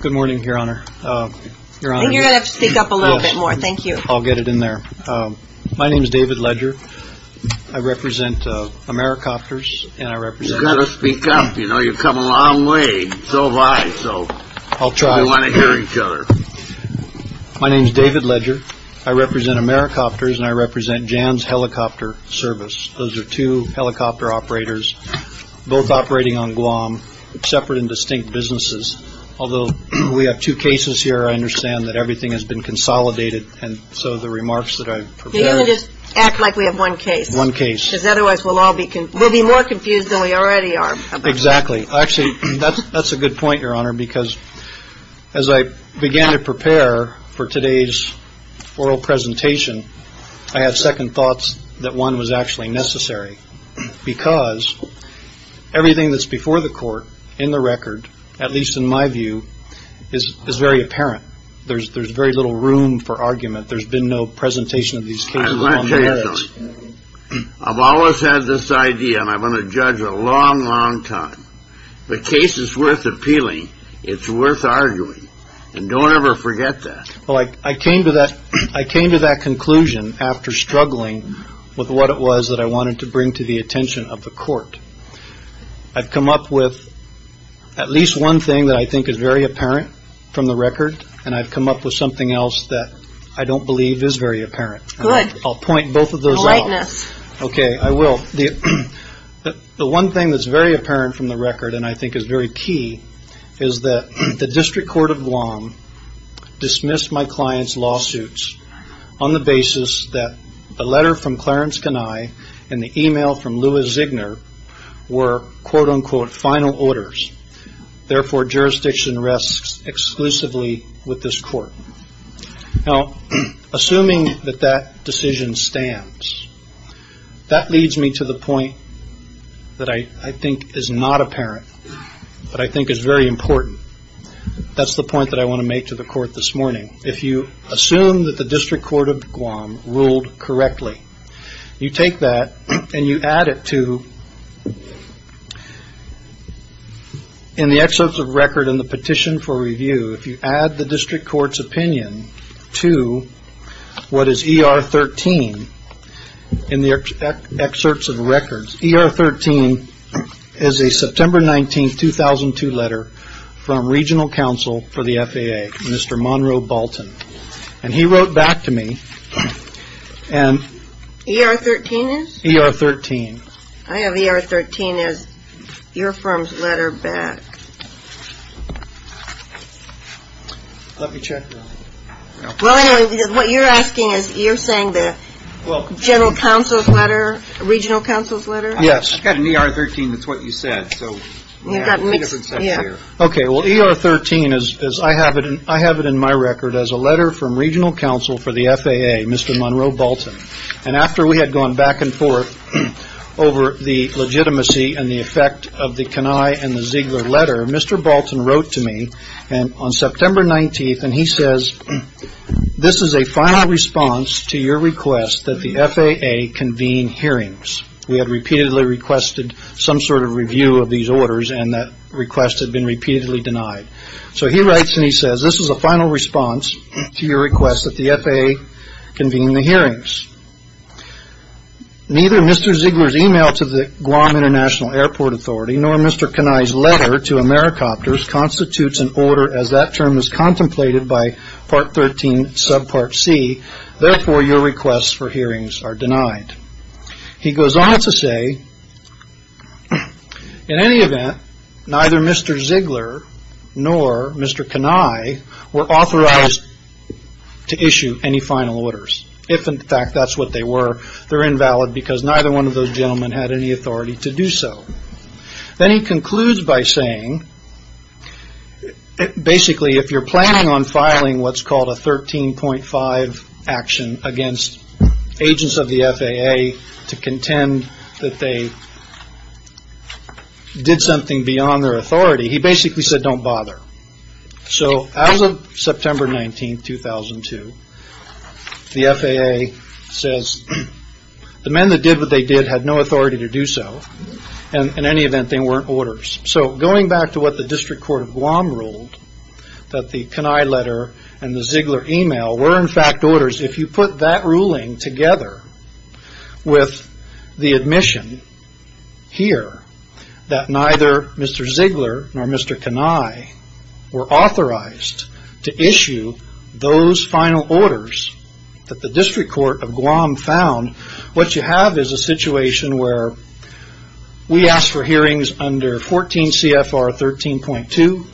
Good morning, Your Honor. I think you're going to have to speak up a little bit more. Thank you. I'll get it in there. My name is David Ledger. I represent Americopters and I represent You've got to speak up. You know, you've come a long way. So have I. I'll try. We want to hear each other. My name is David Ledger. I represent Americopters and I represent Jans Helicopter Service. Those are two helicopter operators, both operating on Guam, separate and distinct businesses. Although we have two cases here, I understand that everything has been consolidated. And so the remarks that I prepared just act like we have one case, one case, because otherwise we'll all be we'll be more confused than we already are. Exactly. Actually, that's that's a good point, Your Honor, because as I began to prepare for today's oral presentation, I had second thoughts that one was actually necessary because everything that's before the court in the record, at least in my view, is is very apparent. There's there's very little room for argument. There's been no presentation of these cases on the merits. I've always had this idea and I'm going to judge a long, long time. The like I came to that I came to that conclusion after struggling with what it was that I wanted to bring to the attention of the court. I've come up with at least one thing that I think is very apparent from the record, and I've come up with something else that I don't believe is very apparent. I'll point both of those out. OK, I will. The one thing that's very apparent is that the court of Guam dismissed my client's lawsuits on the basis that the letter from Clarence Kenai and the email from Louis Zigner were, quote unquote, final orders. Therefore jurisdiction rests exclusively with this court. Now, assuming that that decision stands, that leads me to the point that I think is not apparent, but I think is very that's the point that I want to make to the court this morning. If you assume that the district court of Guam ruled correctly, you take that and you add it to in the excerpts of record and the petition for review, if you add the district court's opinion to what is E.R. 13 in the excerpts of records, E.R. 13 is a September 19th, 2002 letter from regional counsel for the FAA, Mr. Monroe Bolton, and he wrote back to me and E.R. 13 is E.R. 13. I have E.R. 13 as your firm's letter back. Let me check. Well, I know what you're asking is you're saying the general counsel's letter, regional counsel's letter. Yes. I got an E.R. 13. That's what you said. So we have E.R. 13 as I have it in my record as a letter from regional counsel for the FAA, Mr. Monroe Bolton. And after we had gone back and forth over the legitimacy and the effect of the Kenai and the Ziegler letter, Mr. Bolton wrote to me on September 19th and he says, this is a final response to your request that the FAA convene hearings. We had repeatedly requested some sort of review of these orders and that request had been repeatedly denied. So he writes and he says, this is a final response to your request that the FAA convene the hearings. Neither Mr. Ziegler's email to the Guam International Airport Authority nor Mr. Kenai's letter to AmeriCopters constitutes an order as that request for hearings are denied. He goes on to say, in any event, neither Mr. Ziegler nor Mr. Kenai were authorized to issue any final orders. If in fact that's what they were, they're invalid because neither one of those gentlemen had any authority to do so. Then he concludes by saying, basically if you're planning on filing what's called a 13.5 action against agents of the FAA to contend that they did something beyond their authority, he basically said, don't bother. So as of September 19th, 2002, the FAA says, the men that did what they did had no authority to do so. In any event, they weren't orders. So going back to what the District Court of Guam ruled, that the Kenai letter and the Ziegler email were in fact orders, if you put that ruling together with the admission here that neither Mr. Ziegler nor Mr. Kenai were authorized to issue those final orders that the District Court of Guam found, what you have is a situation where we asked for 13 CFR 13.2.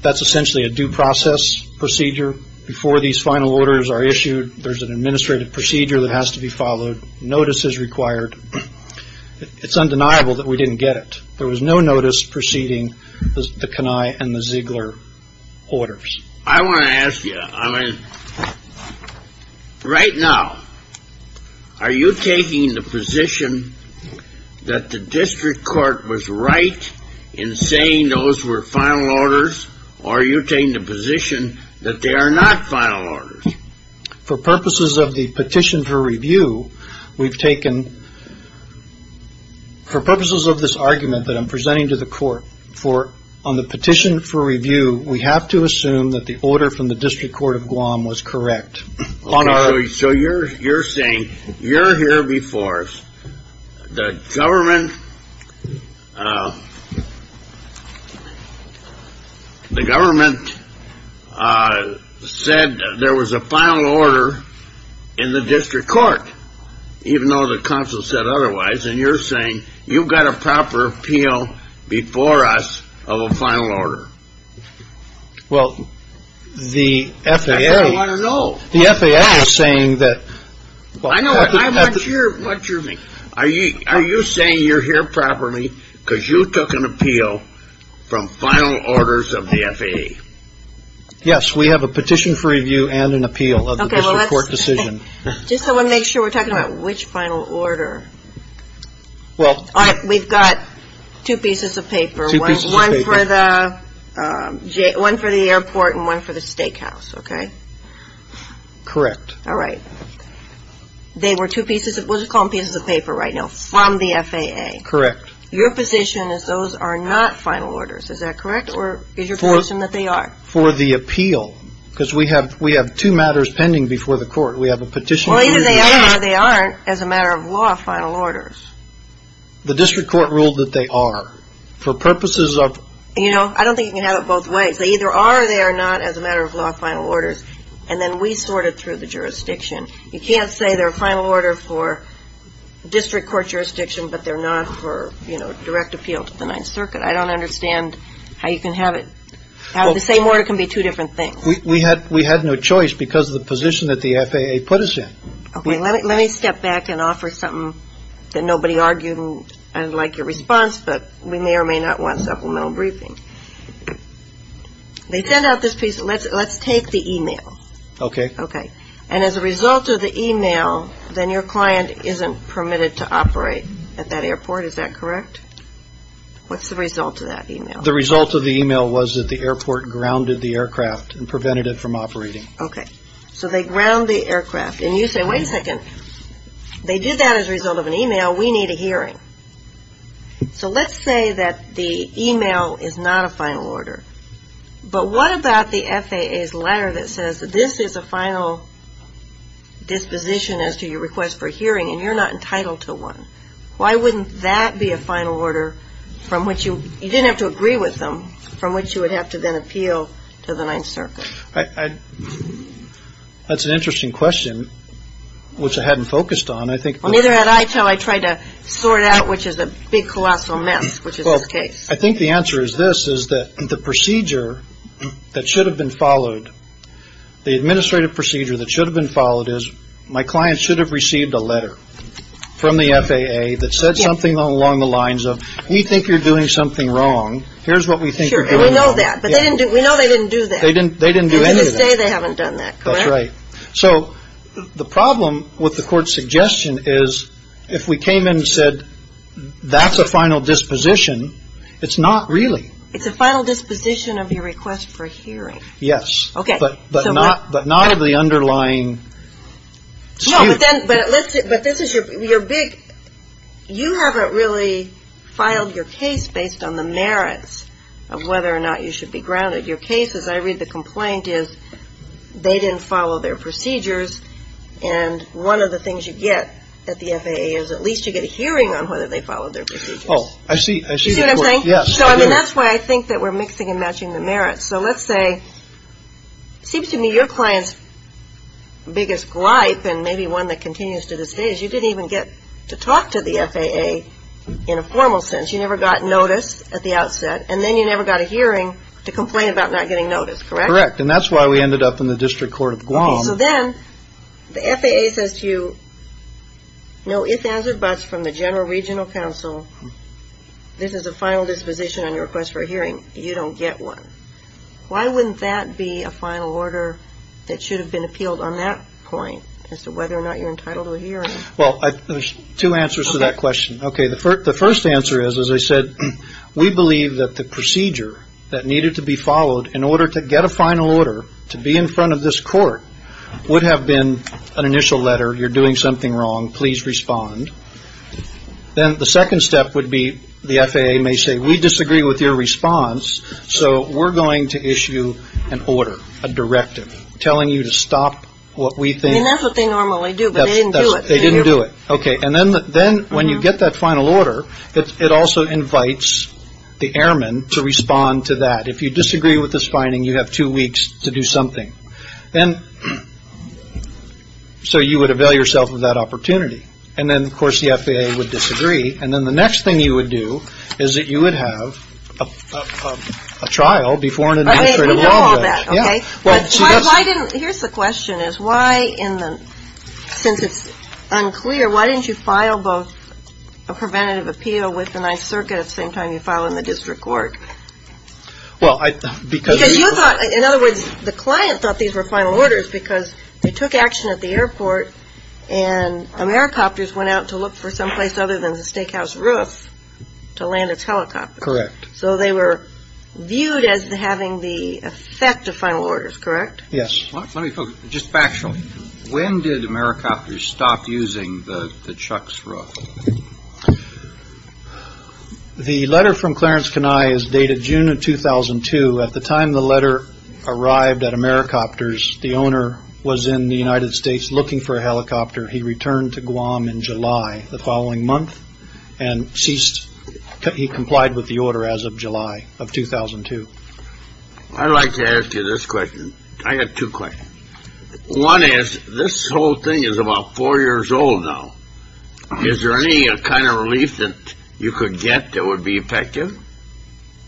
That's essentially a due process procedure. Before these final orders are issued, there's an administrative procedure that has to be followed. Notice is required. It's undeniable that we didn't get it. There was no notice preceding the Kenai and the Ziegler orders. I want to ask you, right now, are you taking the position that the District Court was right in saying those were final orders, or are you taking the position that they are not final orders? For purposes of the petition for review, we've taken, for purposes of this argument that I'm presenting to the court, on the petition for review, we have to assume that the order from the District Court of Guam was correct. So you're saying, you're here before us. The government, the government said there was a final order in the District Court, even though the council said otherwise, and you're saying you've got a proper appeal before us of a final order. Well, the FAA. I just want to know. The FAA is saying that I know what you mean. Are you saying you're here properly because you took an appeal from final orders of the FAA? Yes, we have a petition for review and an appeal of the District Court decision. Just so we make sure we're talking about which final order. We've got two pieces of paper, one for the airport and one for the steakhouse, okay? Correct. All right. They were two pieces of, we'll just call them pieces of paper right now, from the FAA. Correct. Your position is those are not final orders, is that correct? Or is your position that they are? For the appeal, because we have two matters pending before the court. We have a petition for review. Well, either they are or they aren't as a matter of law, final orders. The District Court ruled that they are. For purposes of... You know, I don't think you can have it both ways. They either are or they are not as a matter of law, final orders, and then we sort it through the jurisdiction. You can't say they're a final order for District Court jurisdiction, but they're not for, you know, direct appeal to the Ninth Circuit. I don't understand how you can have it, how the same order can be two different things. We had no choice because of the position that the FAA put us in. Okay, let me step back and offer something that nobody argued and I'd like your response, but we may or may not want supplemental briefing. They send out this piece, let's take the email. Okay. And as a result of the email, then your client isn't permitted to operate at that airport, is that correct? What's the result of that email? The result of the email was that the airport grounded the aircraft and prevented it from operating. Okay. So they ground the aircraft and you say, wait a second, they did that as a result of an email, we need a hearing. So let's say that the email is not a final order, but what about the FAA's letter that says that this is a final disposition as to your request for hearing and you're not entitled to one? Why wouldn't that be a final order from which you, you didn't have to agree with them, from which you would have to then appeal to the Ninth Circuit? That's an interesting question, which I hadn't focused on, I think. Well, neither had I until I tried to sort out, which is a big colossal mess, which is this case. I think the answer is this, is that the procedure that should have been followed, the administrative procedure that should have been followed is, my client should have received a letter from the FAA that said something along the lines of, we think you're doing something wrong, here's what we think you're doing wrong. Sure, and we know that, but we know they didn't do that. They didn't do any of that. And to this day, they haven't done that, correct? That's right. So the problem with the court's suggestion is, if we came in and said, that's a final disposition, it's not really. It's a final disposition of your request for hearing. Yes. But not of the underlying... No, but this is your big, you haven't really filed your case based on the merits of whether or not you should be grounded. Your case, as I read the complaint, is, they didn't follow their procedures, and one of the things you get at the FAA is, at least you get a hearing on whether they followed their procedures. Oh, I see, I see the point. You see what I'm saying? Yes, I do. So I mean, that's why I think that we're mixing and matching the merits. So let's say, it seems to me your client's biggest glipe, and maybe one that continues to this day, is you didn't even get to talk to the FAA in a formal sense. You never got notice at the outset, and then you never got a hearing to complain about not getting notice, correct? Correct, and that's why we ended up in the District Court of Guam. Okay, so then, the FAA says to you, no ifs, ands, or buts from the general regional counsel, this is a final disposition on your request for a hearing, you don't get one. Why wouldn't that be a final order that should have been appealed on that point, as to whether or not you're entitled to a hearing? Well, there's two answers to that question. Okay, the first answer is, as I said, we believe that the procedure that needed to be followed in order to get a final order to be in front of this court would have been an initial letter, you're doing something wrong, please respond. Then the second step would be, the FAA may say, we disagree with your response, so we're going to issue an order, a directive, telling you to stop what we think. I mean, that's what they normally do, but they didn't do it. They didn't do it. Okay, and then when you get that final order, it also invites the airmen to respond to that. If you disagree with this finding, you have two weeks to do something. So you would avail yourself of that opportunity. And then, of course, the FAA would disagree, and then the next thing you would do is that you would have a trial before an administrative law judge. Okay, here's the question, since it's unclear, why didn't you file both a preventative appeal with the 9th Circuit at the same time you filed in the district court? Because you thought, in other words, the client thought these were final orders because they took action at the airport, and helicopters went out to look for someplace other than the steakhouse roof to land a helicopter. Correct. So they were viewed as having the effect of final orders, correct? Yes. Just factually, when did Americopters stop using the Chuck's Roof? The letter from Clarence Kenai is dated June of 2002. At the time the letter arrived at Americopters, the owner was in the United States looking for a helicopter. He returned to Guam in July, the following month, and ceased. He complied with the order as of July of 2002. I'd like to ask you this question. I have two questions. One is, this whole thing is about four years old now. Is there any kind of relief that you could get that would be effective?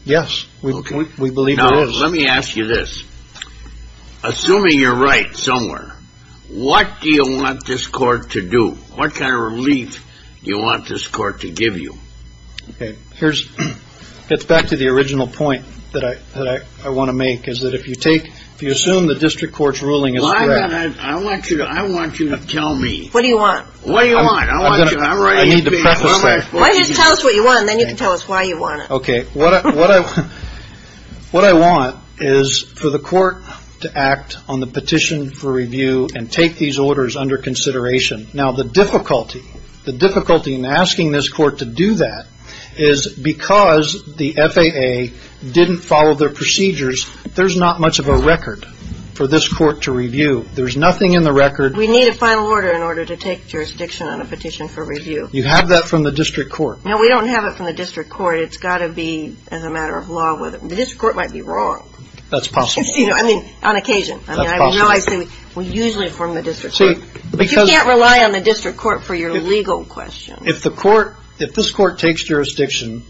Yes, we believe there is. Let me ask you this. Assuming you're right somewhere, what do you want this court to do? What kind of relief do you want this court to give you? Okay, here's, it gets back to the original point that I want to make, is that if you take, if you assume the district court's ruling is correct. I want you to, I want you to tell me. What do you want? What do you want? I need to preface that. Why don't you tell us what you want, and then you can tell us why you want it. Okay, what I, what I, what I want is for the court to act on the petition for review and take these orders under consideration. Now, the difficulty, the difficulty in asking this court to do that is because the FAA didn't follow their procedures, there's not much of a record for this court to review. There's nothing in the record. We need a final order in order to take jurisdiction on a petition for review. You have that from the district court. No, we don't have it from the district court. It's got to be as a matter of law whether, the district court might be wrong. That's possible. You know, I mean, on occasion. That's possible. I mean, I know I say we usually form the district court. See, because You can't rely on the district court for your legal questions. If the court, if this court takes jurisdiction,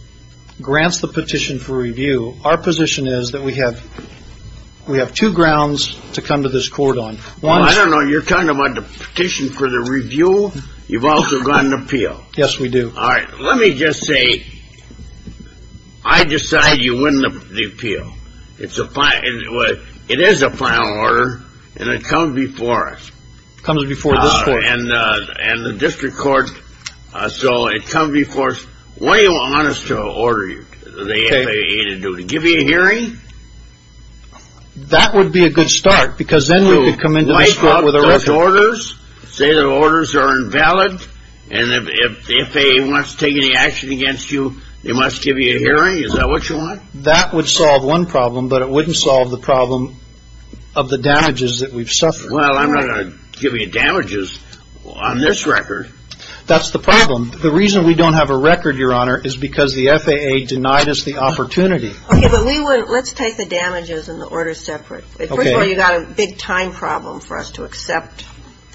grants the petition for review, our position is that we have, we have two grounds to come to this court on. Well, I don't know, you're talking about the petition for the review, you've also got an appeal. Yes, we do. All right, let me just say, I decide you win the appeal. It's a, it is a final order, and it comes before us. Comes before this court. All right, and the district court, so it comes before us. What do you want us to order you, the FAA to do, to give you a hearing? That would be a good start, because then we'd be coming to this court with a record. Say the orders are invalid, and if the FAA wants to take any action against you, they must give you a hearing, is that what you want? That would solve one problem, but it wouldn't solve the problem of the damages that we've suffered. Well, I'm not going to give you damages on this record. That's the problem. The reason we don't have a record, Your Honor, is because the FAA denied us the opportunity. Okay, but we wouldn't, let's take the damages and the orders separate. Okay. Well, you've got a big time problem for us to accept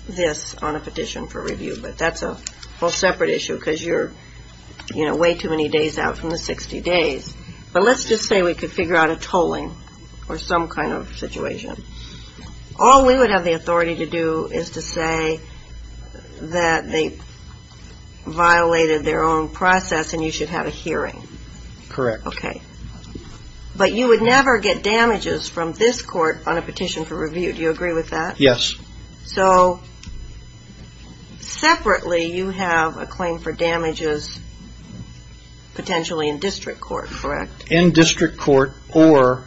this on a petition for review, but that's a whole separate issue, because you're, you know, way too many days out from the 60 days. But let's just say we could figure out a tolling or some kind of situation. All we would have the authority to do is to say that they violated their own process, and you should have a hearing. Correct. But you would never get damages from this court on a petition for review. Do you agree with that? Yes. So, separately, you have a claim for damages potentially in district court, correct? In district court or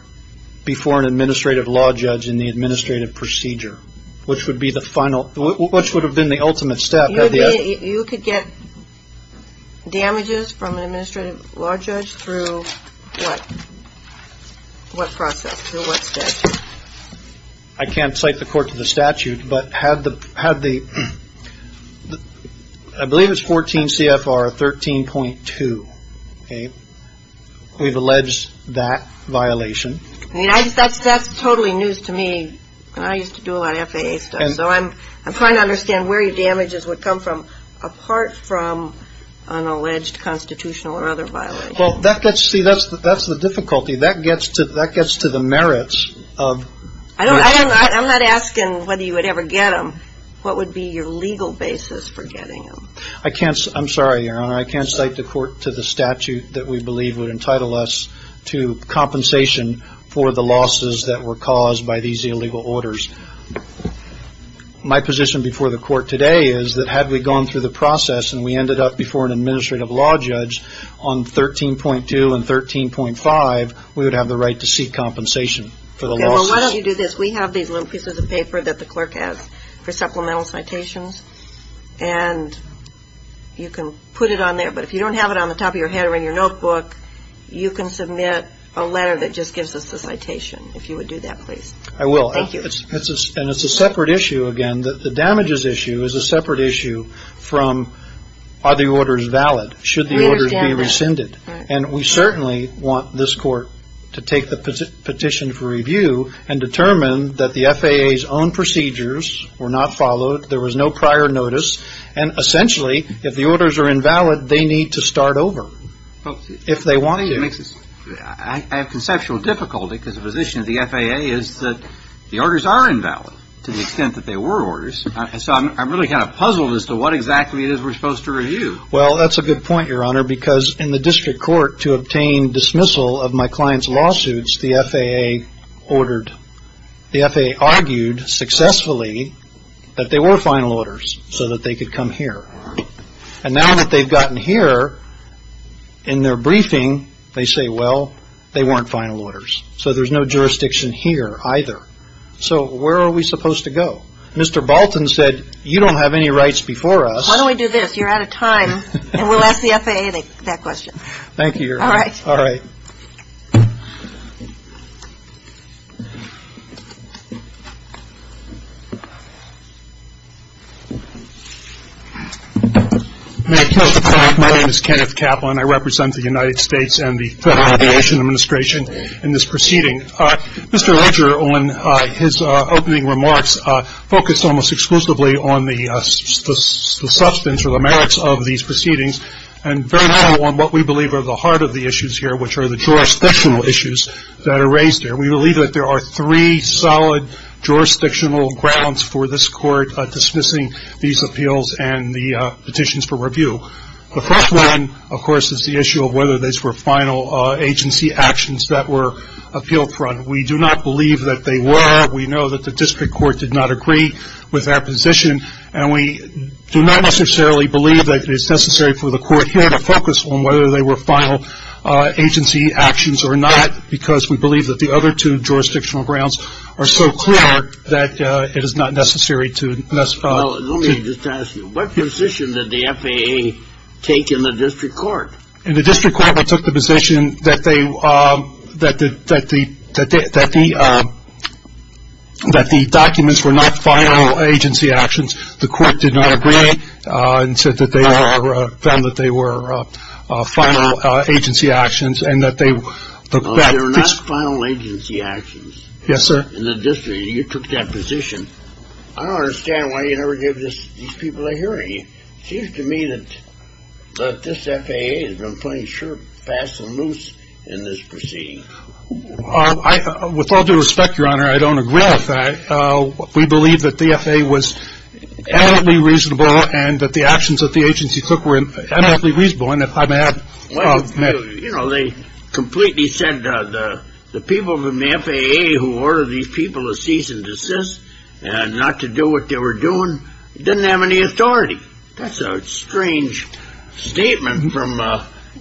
before an administrative law judge in the administrative procedure, which would be the final, which would have been the ultimate step. You could get damages from an administrative law judge through what? What process? Through what statute? I can't cite the court to the statute, but had the, I believe it's 14 CFR 13.2, okay? We've alleged that violation. I mean, that's totally news to me. I used to do a lot of FAA stuff, so I'm trying to figure out where the damages would come from apart from an alleged constitutional or other violation. Well, that gets, see, that's the difficulty. That gets to the merits of... I'm not asking whether you would ever get them. What would be your legal basis for getting them? I can't, I'm sorry, Your Honor. I can't cite the court to the statute that we believe would entitle us to compensation for the losses that were caused by these illegal orders. My position before the court today is that had we gone through the process and we ended up before an administrative law judge on 13.2 and 13.5, we would have the right to seek compensation for the losses. Okay, well, why don't you do this? We have these little pieces of paper that the clerk has for supplemental citations, and you can put it on there, but if you don't have it on the top of your head or in your notebook, you can submit a letter that just gives us the citation, if you would do that, please. I will. Thank you. And it's a separate issue, again, that the damages issue is a separate issue from are the orders valid, should the orders be rescinded. I understand that. And we certainly want this court to take the petition for review and determine that the FAA's own procedures were not followed, there was no prior notice, and essentially, I have conceptual difficulty because the position of the FAA is that the orders are invalid to the extent that they were orders, so I'm really kind of puzzled as to what exactly it is we're supposed to review. Well, that's a good point, Your Honor, because in the district court, to obtain dismissal of my client's lawsuits, the FAA ordered, the FAA argued successfully that they were final orders so that they could come here. And now that they've gotten here, in their briefing, they say, well, they weren't final orders, so there's no jurisdiction here either. So where are we supposed to go? Mr. Balton said, you don't have any rights before us. Why don't we do this? You're out of time, and we'll ask the FAA that question. Thank you, Your Honor. All right. All right. My name is Kenneth Kaplan. I represent the United States and the Federal Aviation Administration in this proceeding. Mr. Ledger, on his opening remarks, focused almost exclusively on the substance or the merits of these proceedings and very little on what we believe are the heart of the issues here, which are the jurisdictional issues that are raised here. We believe that there are three solid jurisdictional grounds for this court dismissing these appeals and the petitions for review. The first one, of course, is the issue of whether these were final agency actions that were appealed for. We do not believe that they were. We know that the district court did not agree with our position, and we do not necessarily believe that it's necessary for the court here to focus on whether they were final agency actions or not because we believe that the other two jurisdictional grounds are so clear that it is not necessary to specify. Well, let me just ask you, what position did the FAA take in the district court? In the district court, they took the position that the documents were not final agency actions. The court did not agree and said that they found that they were final agency actions and that they Well, they're not final agency actions. Yes, sir. In the district. You took that position. I don't understand why you never give these people a hearing. It seems to me that this FAA has been playing sure, fast, and loose in this proceeding. With all due respect, Your Honor, I don't agree with that. We believe that the FAA was eminently reasonable and that the actions that the agency took were eminently reasonable, and if I may add You know, they completely said the people from the FAA who ordered these people to cease and desist and not to do what they were doing didn't have any authority. That's a strange statement from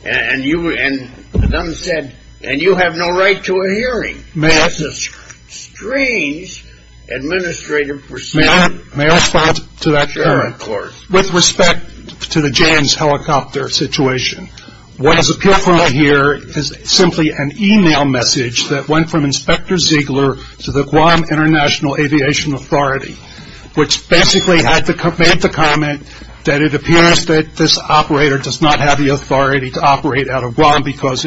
and you and them said and you have no right to a hearing. May I? That's a strange administrative proceeding. May I respond to that? Sure, of course. With respect to the Jan's helicopter situation, what is apparent here is simply an e-mail message that went from Inspector Ziegler to the Guam International Aviation Authority, which basically made the comment that it appears that this operator does not have the authority to operate out of Guam because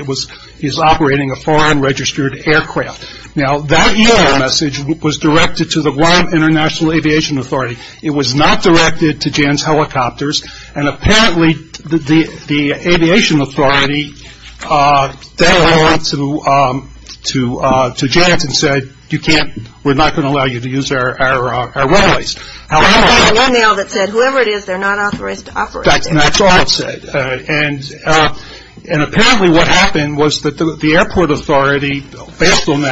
he's operating a foreign registered aircraft. Now, that e-mail message was directed to the Guam International Aviation Authority. It was not directed to Jan's helicopters, and apparently the aviation authority then went to Jan's and said, You can't, we're not going to allow you to use our runways. However, That's the e-mail that said whoever it is, they're not authorized to operate. That's all it said. And apparently what happened was that the airport authority, told Jan's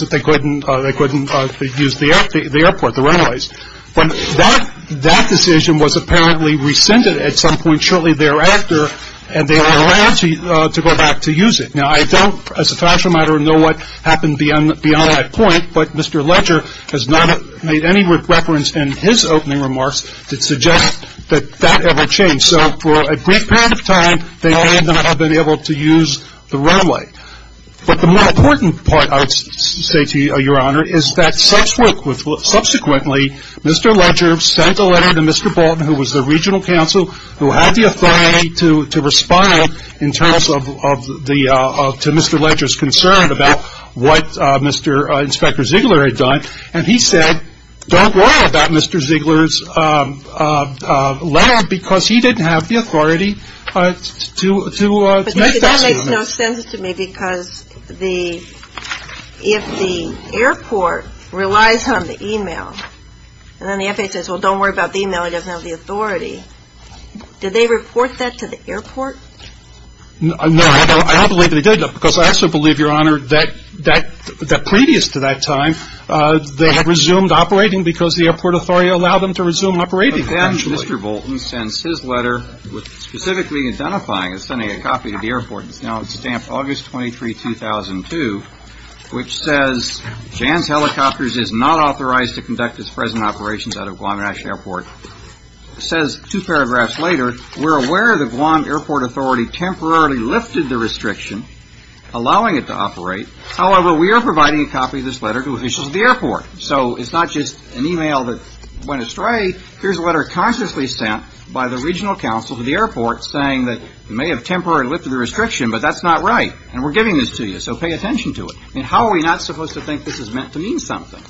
that they couldn't use the airport, the runways. But that decision was apparently rescinded at some point shortly thereafter, and they were allowed to go back to use it. Now, I don't, as a financial matter, know what happened beyond that point, but Mr. Ledger has not made any reference in his opening remarks to suggest that that ever changed. So for a brief period of time, they may not have been able to use the runway. But the more important part, I would say to you, Your Honor, is that subsequently, Mr. Ledger sent a letter to Mr. Bolton, who was the regional counsel, who had the authority to respond to Mr. Ledger's concern about what Inspector Ziegler had done, and he said, don't worry about Mr. Ziegler's letter, because he didn't have the authority to make that statement. But that makes no sense to me, because if the airport relies on the e-mail, and then the FAA says, well, don't worry about the e-mail, it doesn't have the authority, did they report that to the airport? No, I don't believe they did, because I also believe, Your Honor, that previous to that time they had resumed operating because the airport authority allowed them to resume operating eventually. But then Mr. Bolton sends his letter specifically identifying and sending a copy to the airport. It's now stamped August 23, 2002, which says, Jan's Helicopters is not authorized to conduct its present operations out of Guam National Airport. It says two paragraphs later, we're aware the Guam Airport Authority temporarily lifted the restriction, allowing it to operate. However, we are providing a copy of this letter to officials at the airport. So it's not just an e-mail that went astray. Here's a letter consciously sent by the regional counsel to the airport saying that we may have temporarily lifted the restriction, but that's not right, and we're giving this to you, so pay attention to it. I mean, how are we not supposed to think this is meant to mean something?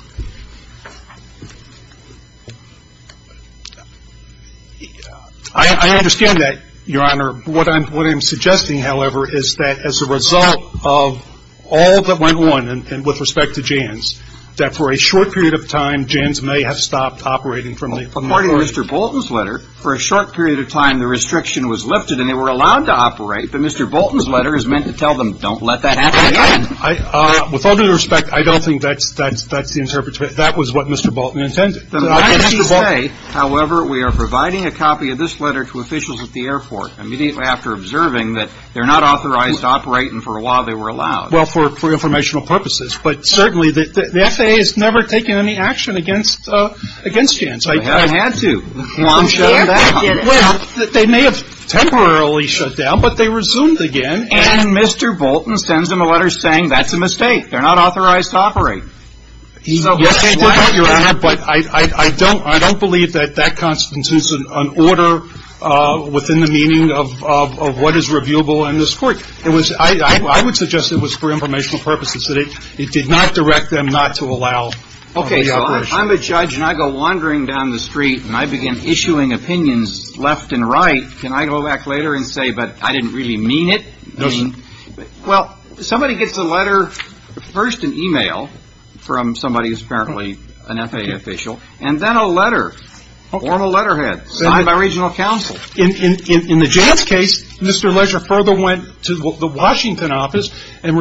I understand that, Your Honor. What I'm suggesting, however, is that as a result of all that went on with respect to Jan's, that for a short period of time Jan's may have stopped operating from the airport. According to Mr. Bolton's letter, for a short period of time the restriction was lifted and they were allowed to operate, but Mr. Bolton's letter is meant to tell them, don't let that happen again. With all due respect, I don't think that's the interpretation. That was what Mr. Bolton intended. I guess he's saying, however, we are providing a copy of this letter to officials at the airport immediately after observing that they're not authorized to operate and for a while they were allowed. Well, for informational purposes, but certainly the FAA has never taken any action against Jan's. They haven't had to. Guam shut it down. Well, they may have temporarily shut down, but they resumed again, and Mr. Bolton sends them a letter saying that's a mistake. They're not authorized to operate. Yes, they did that, Your Honor, but I don't believe that that constitutes an order within the meaning of what is reviewable in this Court. I would suggest it was for informational purposes. It did not direct them not to allow the operation. Okay. So if I'm a judge and I go wandering down the street and I begin issuing opinions left and right, can I go back later and say, but I didn't really mean it? No, sir. Well, somebody gets a letter, first an e-mail from somebody who's apparently an FAA official, and then a letter or a letterhead signed by regional counsel. In the Jan's case, Mr. Leger further went to the Washington office and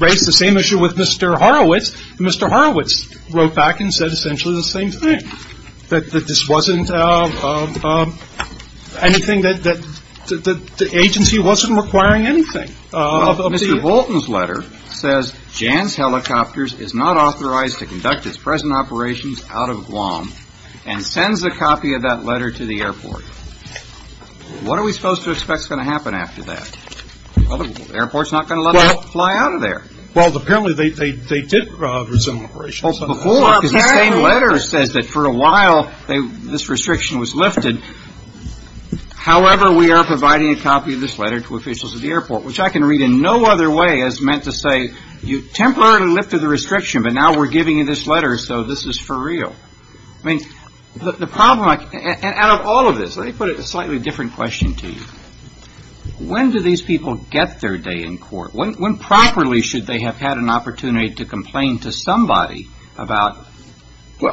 raised the same issue with Mr. Horowitz, and Mr. Horowitz wrote back and said essentially the same thing, that this wasn't anything that the agency wasn't requiring anything. Well, Mr. Bolton's letter says Jan's Helicopters is not authorized to conduct its present operations out of Guam and sends a copy of that letter to the airport. What are we supposed to expect is going to happen after that? The airport's not going to let them fly out of there. Well, apparently they did resume operations. Well, before, because the same letter says that for a while this restriction was lifted. However, we are providing a copy of this letter to officials at the airport, which I can read in no other way as meant to say you temporarily lifted the restriction, but now we're giving you this letter, so this is for real. I mean, the problem, out of all of this, let me put a slightly different question to you. When do these people get their day in court? When properly should they have had an opportunity to complain to somebody about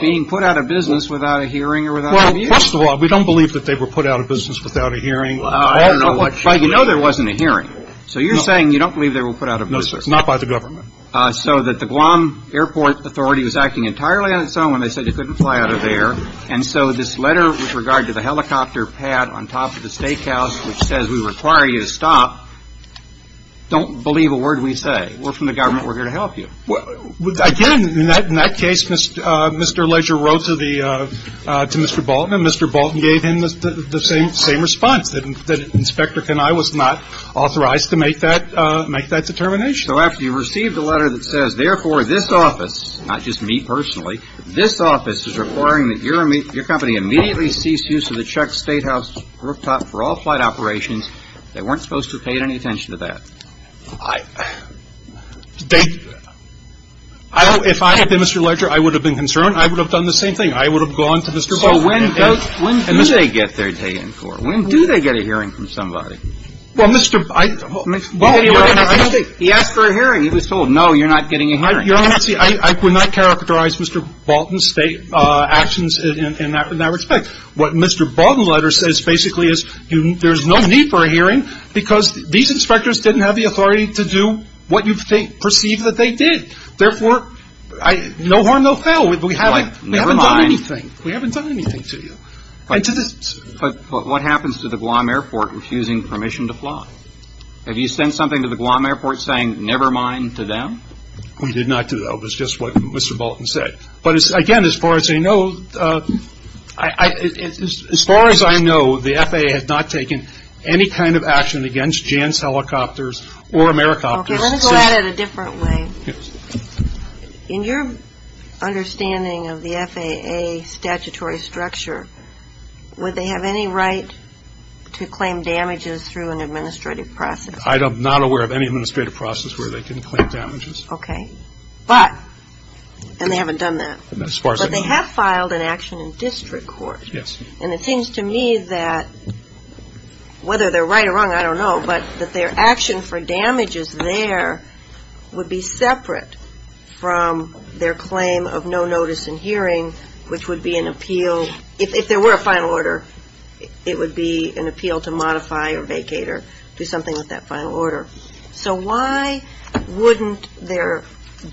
being put out of business without a hearing or without a view? Well, first of all, we don't believe that they were put out of business without a hearing. I don't know what you mean. But you know there wasn't a hearing. So you're saying you don't believe they were put out of business. No, sir, not by the government. So that the Guam Airport Authority was acting entirely on its own when they said you couldn't fly out of there, and so this letter with regard to the helicopter pad on top of the steakhouse which says we require you to stop, don't believe a word we say. We're from the government. We're here to help you. Well, again, in that case, Mr. Leger wrote to the Mr. Bolton, and Mr. Bolton gave him the same response, that Inspector Kenai was not authorized to make that determination. So after you received a letter that says, therefore, this office, not just me personally, this office is requiring that your company immediately cease use of the check statehouse rooftop for all flight operations in the United States. They weren't supposed to have paid any attention to that. If I had been Mr. Leger, I would have been concerned. I would have done the same thing. I would have gone to Mr. Bolton. So when do they get their day in court? When do they get a hearing from somebody? Well, Mr. Bolton. He asked for a hearing. He was told, no, you're not getting a hearing. I would not characterize Mr. Bolton's actions in that respect. What Mr. Bolton's letter says, basically, is there's no need for a hearing, because these inspectors didn't have the authority to do what you perceive that they did. Therefore, no harm, no foul. We haven't done anything. We haven't done anything to you. But what happens to the Guam Airport refusing permission to fly? Have you sent something to the Guam Airport saying, never mind, to them? We did not do that. It was just what Mr. Bolton said. But, again, as far as I know, the FAA has not taken any kind of action against Jan's Helicopters or AmeriCopters. Okay. Let me go at it a different way. In your understanding of the FAA statutory structure, would they have any right to claim damages through an administrative process? I am not aware of any administrative process where they can claim damages. Okay. But, and they haven't done that. As far as I know. But they have filed an action in district court. Yes. And it seems to me that, whether they're right or wrong, I don't know, but that their action for damages there would be separate from their claim of no notice in hearing, which would be an appeal, if there were a final order, it would be an appeal to modify or vacate or do something with that final order. So why wouldn't their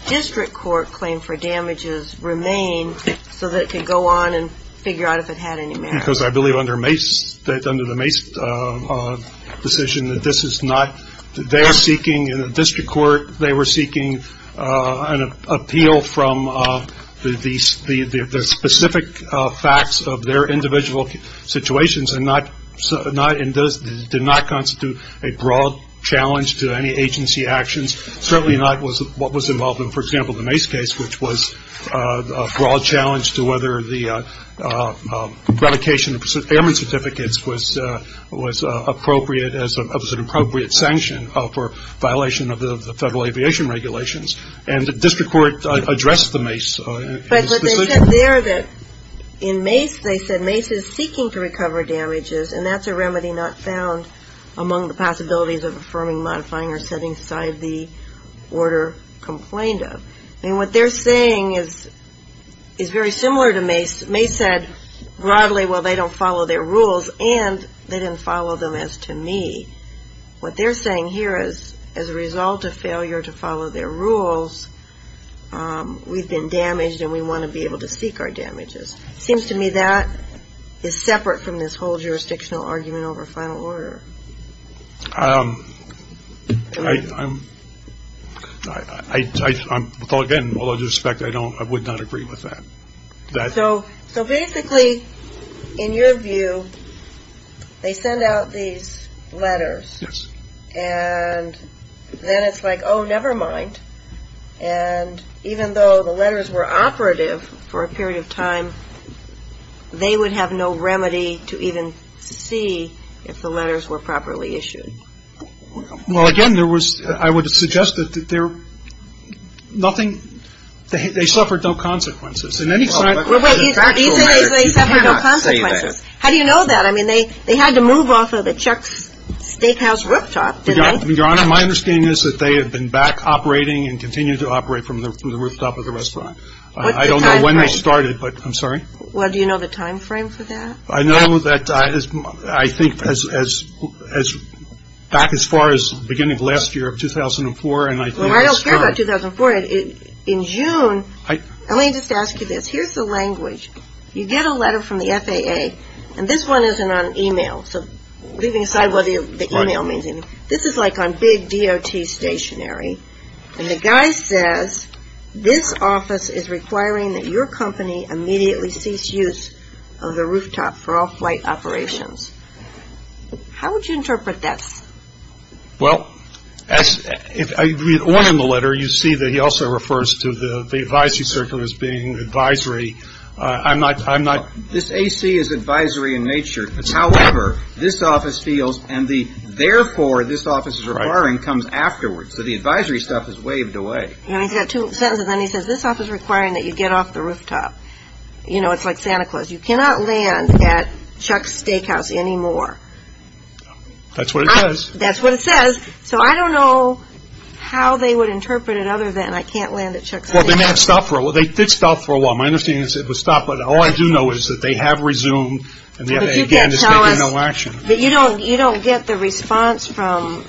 district court claim for damages remain so that it could go on and figure out if it had any merit? Because I believe under Mace, under the Mace decision, that this is not their seeking. In the district court, they were seeking an appeal from the specific facts of their individual situations and did not constitute a broad challenge to any agency actions, certainly not what was involved in, for example, the Mace case, which was a broad challenge to whether the relocation of airman certificates was appropriate, as an appropriate sanction for violation of the Federal Aviation Regulations. And the district court addressed the Mace. But they said there that in Mace, they said Mace is seeking to recover damages, and that's a remedy not found among the possibilities of affirming, modifying, or setting aside the order complained of. And what they're saying is very similar to Mace. Mace said broadly, well, they don't follow their rules, and they didn't follow them as to me. What they're saying here is, as a result of failure to follow their rules, we've been damaged, and we want to be able to seek our damages. It seems to me that is separate from this whole jurisdictional argument over final order. I'm, again, with all due respect, I would not agree with that. So basically, in your view, they send out these letters. Yes. And then it's like, oh, never mind. And even though the letters were operative for a period of time, they would have no remedy to even see if the letters were properly issued. Well, again, there was, I would suggest that there, nothing, they suffered no consequences. In any fact. Well, wait, you said they suffered no consequences. How do you know that? I mean, they had to move off of the Chuck's Steakhouse rooftop, didn't they? Your Honor, my understanding is that they have been back operating and continue to operate from the rooftop of the restaurant. I don't know when they started, but I'm sorry. Well, do you know the time frame for that? I know that I think back as far as the beginning of last year of 2004. Well, I don't care about 2004. In June, let me just ask you this. Here's the language. You get a letter from the FAA, and this one isn't on e-mail, so leaving aside what the e-mail means, this is like on big DOT stationary, and the guy says, this office is requiring that your company immediately cease use of the rooftop for all flight operations. How would you interpret that? Well, if I read on in the letter, you see that he also refers to the advisory circuit as being advisory. I'm not. This AC is advisory in nature. However, this office feels, and the therefore this office is requiring comes afterwards, so the advisory stuff is waved away. He's got two sentences, and then he says, this office is requiring that you get off the rooftop. You know, it's like Santa Claus. You cannot land at Chuck's Steakhouse anymore. That's what it says. That's what it says. So I don't know how they would interpret it other than I can't land at Chuck's Steakhouse. Well, they may have stopped for a while. They did stop for a while. My understanding is it was stopped, but all I do know is that they have resumed, and the FAA again is taking no action. But you don't get the response from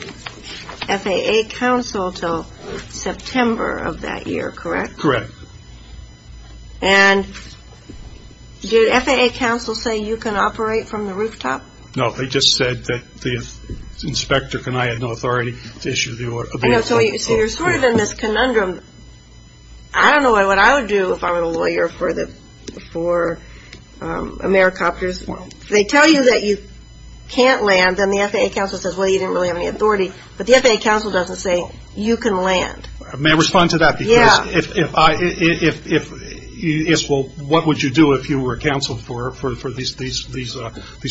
FAA counsel until September of that year, correct? Correct. And did FAA counsel say you can operate from the rooftop? No, they just said that the inspector and I had no authority to issue the order. So you're sort of in this conundrum. I don't know what I would do if I were the lawyer for AmeriCopters. If they tell you that you can't land, then the FAA counsel says, well, you didn't really have any authority. But the FAA counsel doesn't say you can land. May I respond to that? Yeah. Well, what would you do if you were counsel for these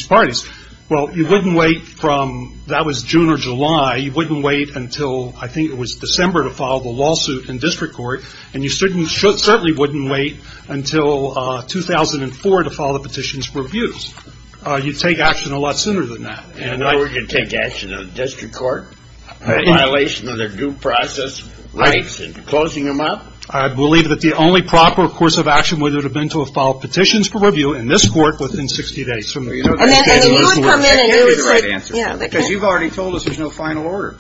parties? Well, you wouldn't wait from that was June or July. You wouldn't wait until I think it was December to file the lawsuit in district court, and you certainly wouldn't wait until 2004 to file the petitions for abuse. You'd take action a lot sooner than that. And now we're going to take action in the district court, I believe that the only proper course of action would have been to have filed petitions for review in this court within 60 days. You've already told us there's no final order.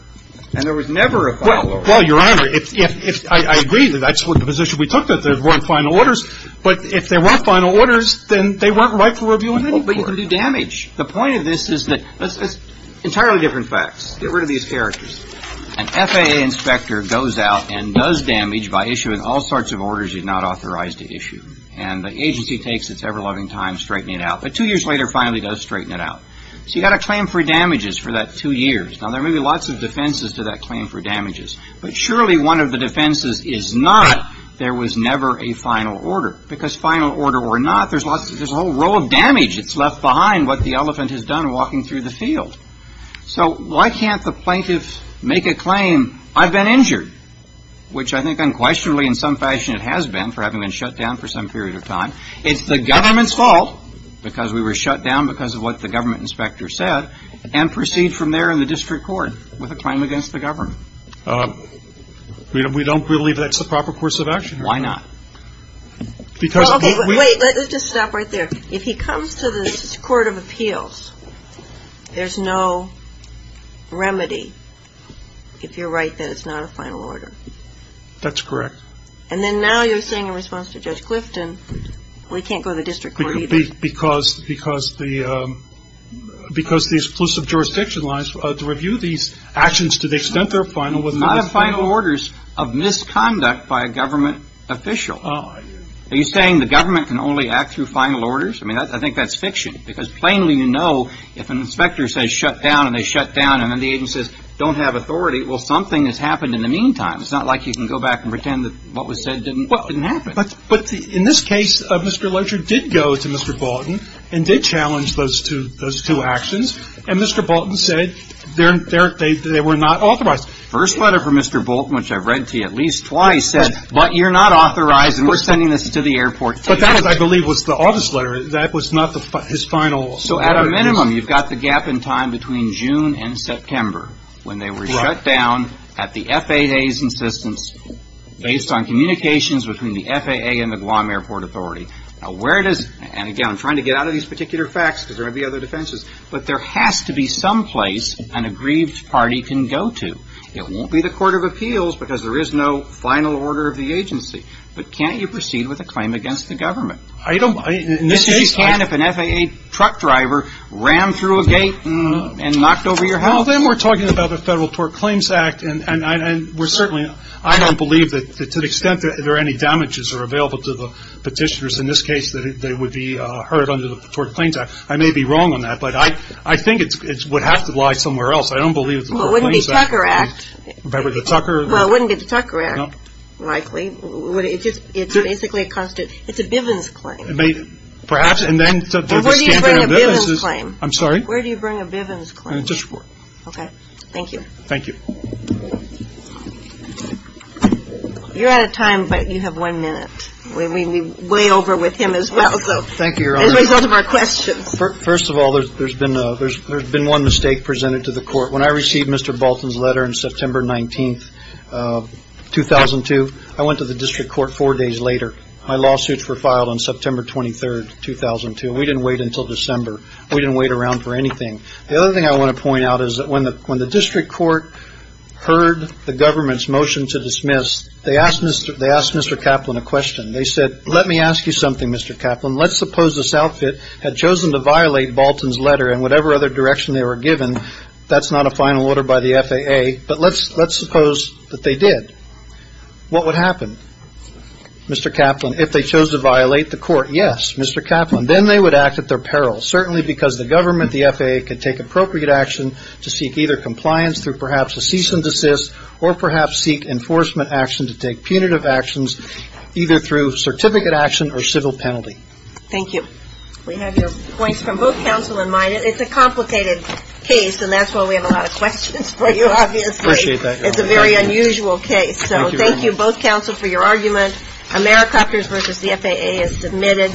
And there was never a final order. Well, Your Honor, I agree that that's the position we took, that there weren't final orders. But if there weren't final orders, then they weren't right for review in any court. But you can do damage. The point of this is that it's entirely different facts. Get rid of these facts. An FAA inspector goes out and does damage by issuing all sorts of orders he's not authorized to issue. And the agency takes its ever-loving time straightening it out. But two years later, finally does straighten it out. So you've got a claim for damages for that two years. Now, there may be lots of defenses to that claim for damages. But surely one of the defenses is not there was never a final order. Because final order or not, there's a whole row of damage that's left behind what the elephant has done walking through the field. So why can't the plaintiff make a claim, I've been injured, which I think unquestionably in some fashion it has been, for having been shut down for some period of time. It's the government's fault because we were shut down because of what the government inspector said, and proceed from there in the district court with a claim against the government. We don't believe that's the proper course of action. Why not? Wait, let's just stop right there. If he comes to this court of appeals, there's no remedy if you're right that it's not a final order. That's correct. And then now you're saying in response to Judge Clifton, we can't go to the district court either. Because the exclusive jurisdiction lies to review these actions to the extent they're final. They're not final orders of misconduct by a government official. Are you saying the government can only act through final orders? I mean, I think that's fiction. Because plainly you know if an inspector says shut down and they shut down and then the agent says don't have authority, well, something has happened in the meantime. It's not like you can go back and pretend that what was said didn't happen. But in this case, Mr. Locher did go to Mr. Bolton and did challenge those two actions. And Mr. Bolton said they were not authorized. First letter from Mr. Bolton, which I've read to you at least twice, said, but you're not authorized and we're sending this to the airport. But that, I believe, was the office letter. That was not his final order. So at a minimum, you've got the gap in time between June and September when they were shut down at the FAA's insistence based on communications between the FAA and the Guam Airport Authority. Now, where it is, and again, I'm trying to get out of these particular facts because there might be other defenses, but there has to be some place an aggrieved party can go to. It won't be the Court of Appeals because there is no final order of the agency. But can't you proceed with a claim against the government? In this case, you can if an FAA truck driver rammed through a gate and knocked over your house. Well, then we're talking about the Federal Tort Claims Act. And we're certainly – I don't believe that to the extent that there are any damages that are available to the petitioners, in this case, that they would be heard under the Tort Claims Act. I may be wrong on that, but I think it would have to lie somewhere else. I don't believe it's the Tort Claims Act. Well, it wouldn't be the Tucker Act. The Tucker? Well, it wouldn't be the Tucker Act, likely. It's basically a constant – it's a Bivens claim. Perhaps. Where do you bring a Bivens claim? I'm sorry? Where do you bring a Bivens claim? Just – Okay. Thank you. Thank you. You're out of time, but you have one minute. We weigh over with him as well. Thank you, Your Honor. As a result of our questions. First of all, there's been a – there's been one mistake presented to the Court. When I received Mr. Bolton's letter on September 19th, 2002, I went to the district court four days later. My lawsuits were filed on September 23rd, 2002. We didn't wait until December. We didn't wait around for anything. The other thing I want to point out is that when the district court heard the government's motion to dismiss, they asked Mr. Kaplan a question. They said, let me ask you something, Mr. Kaplan. Let's suppose this outfit had chosen to violate Bolton's letter and whatever other direction they were given. That's not a final order by the FAA. But let's suppose that they did. What would happen, Mr. Kaplan, if they chose to violate the court? Yes, Mr. Kaplan. Then they would act at their peril, certainly because the government, the FAA, could take appropriate action to seek either compliance through perhaps a cease and desist or perhaps seek enforcement action to take punitive actions either through certificate action or civil penalty. Thank you. We have your points from both counsel in mind. It's a complicated case, and that's why we have a lot of questions for you, obviously. Appreciate that, Your Honor. It's a very unusual case. Thank you, Your Honor. So thank you, both counsel, for your argument. Americopters v. the FAA is submitted.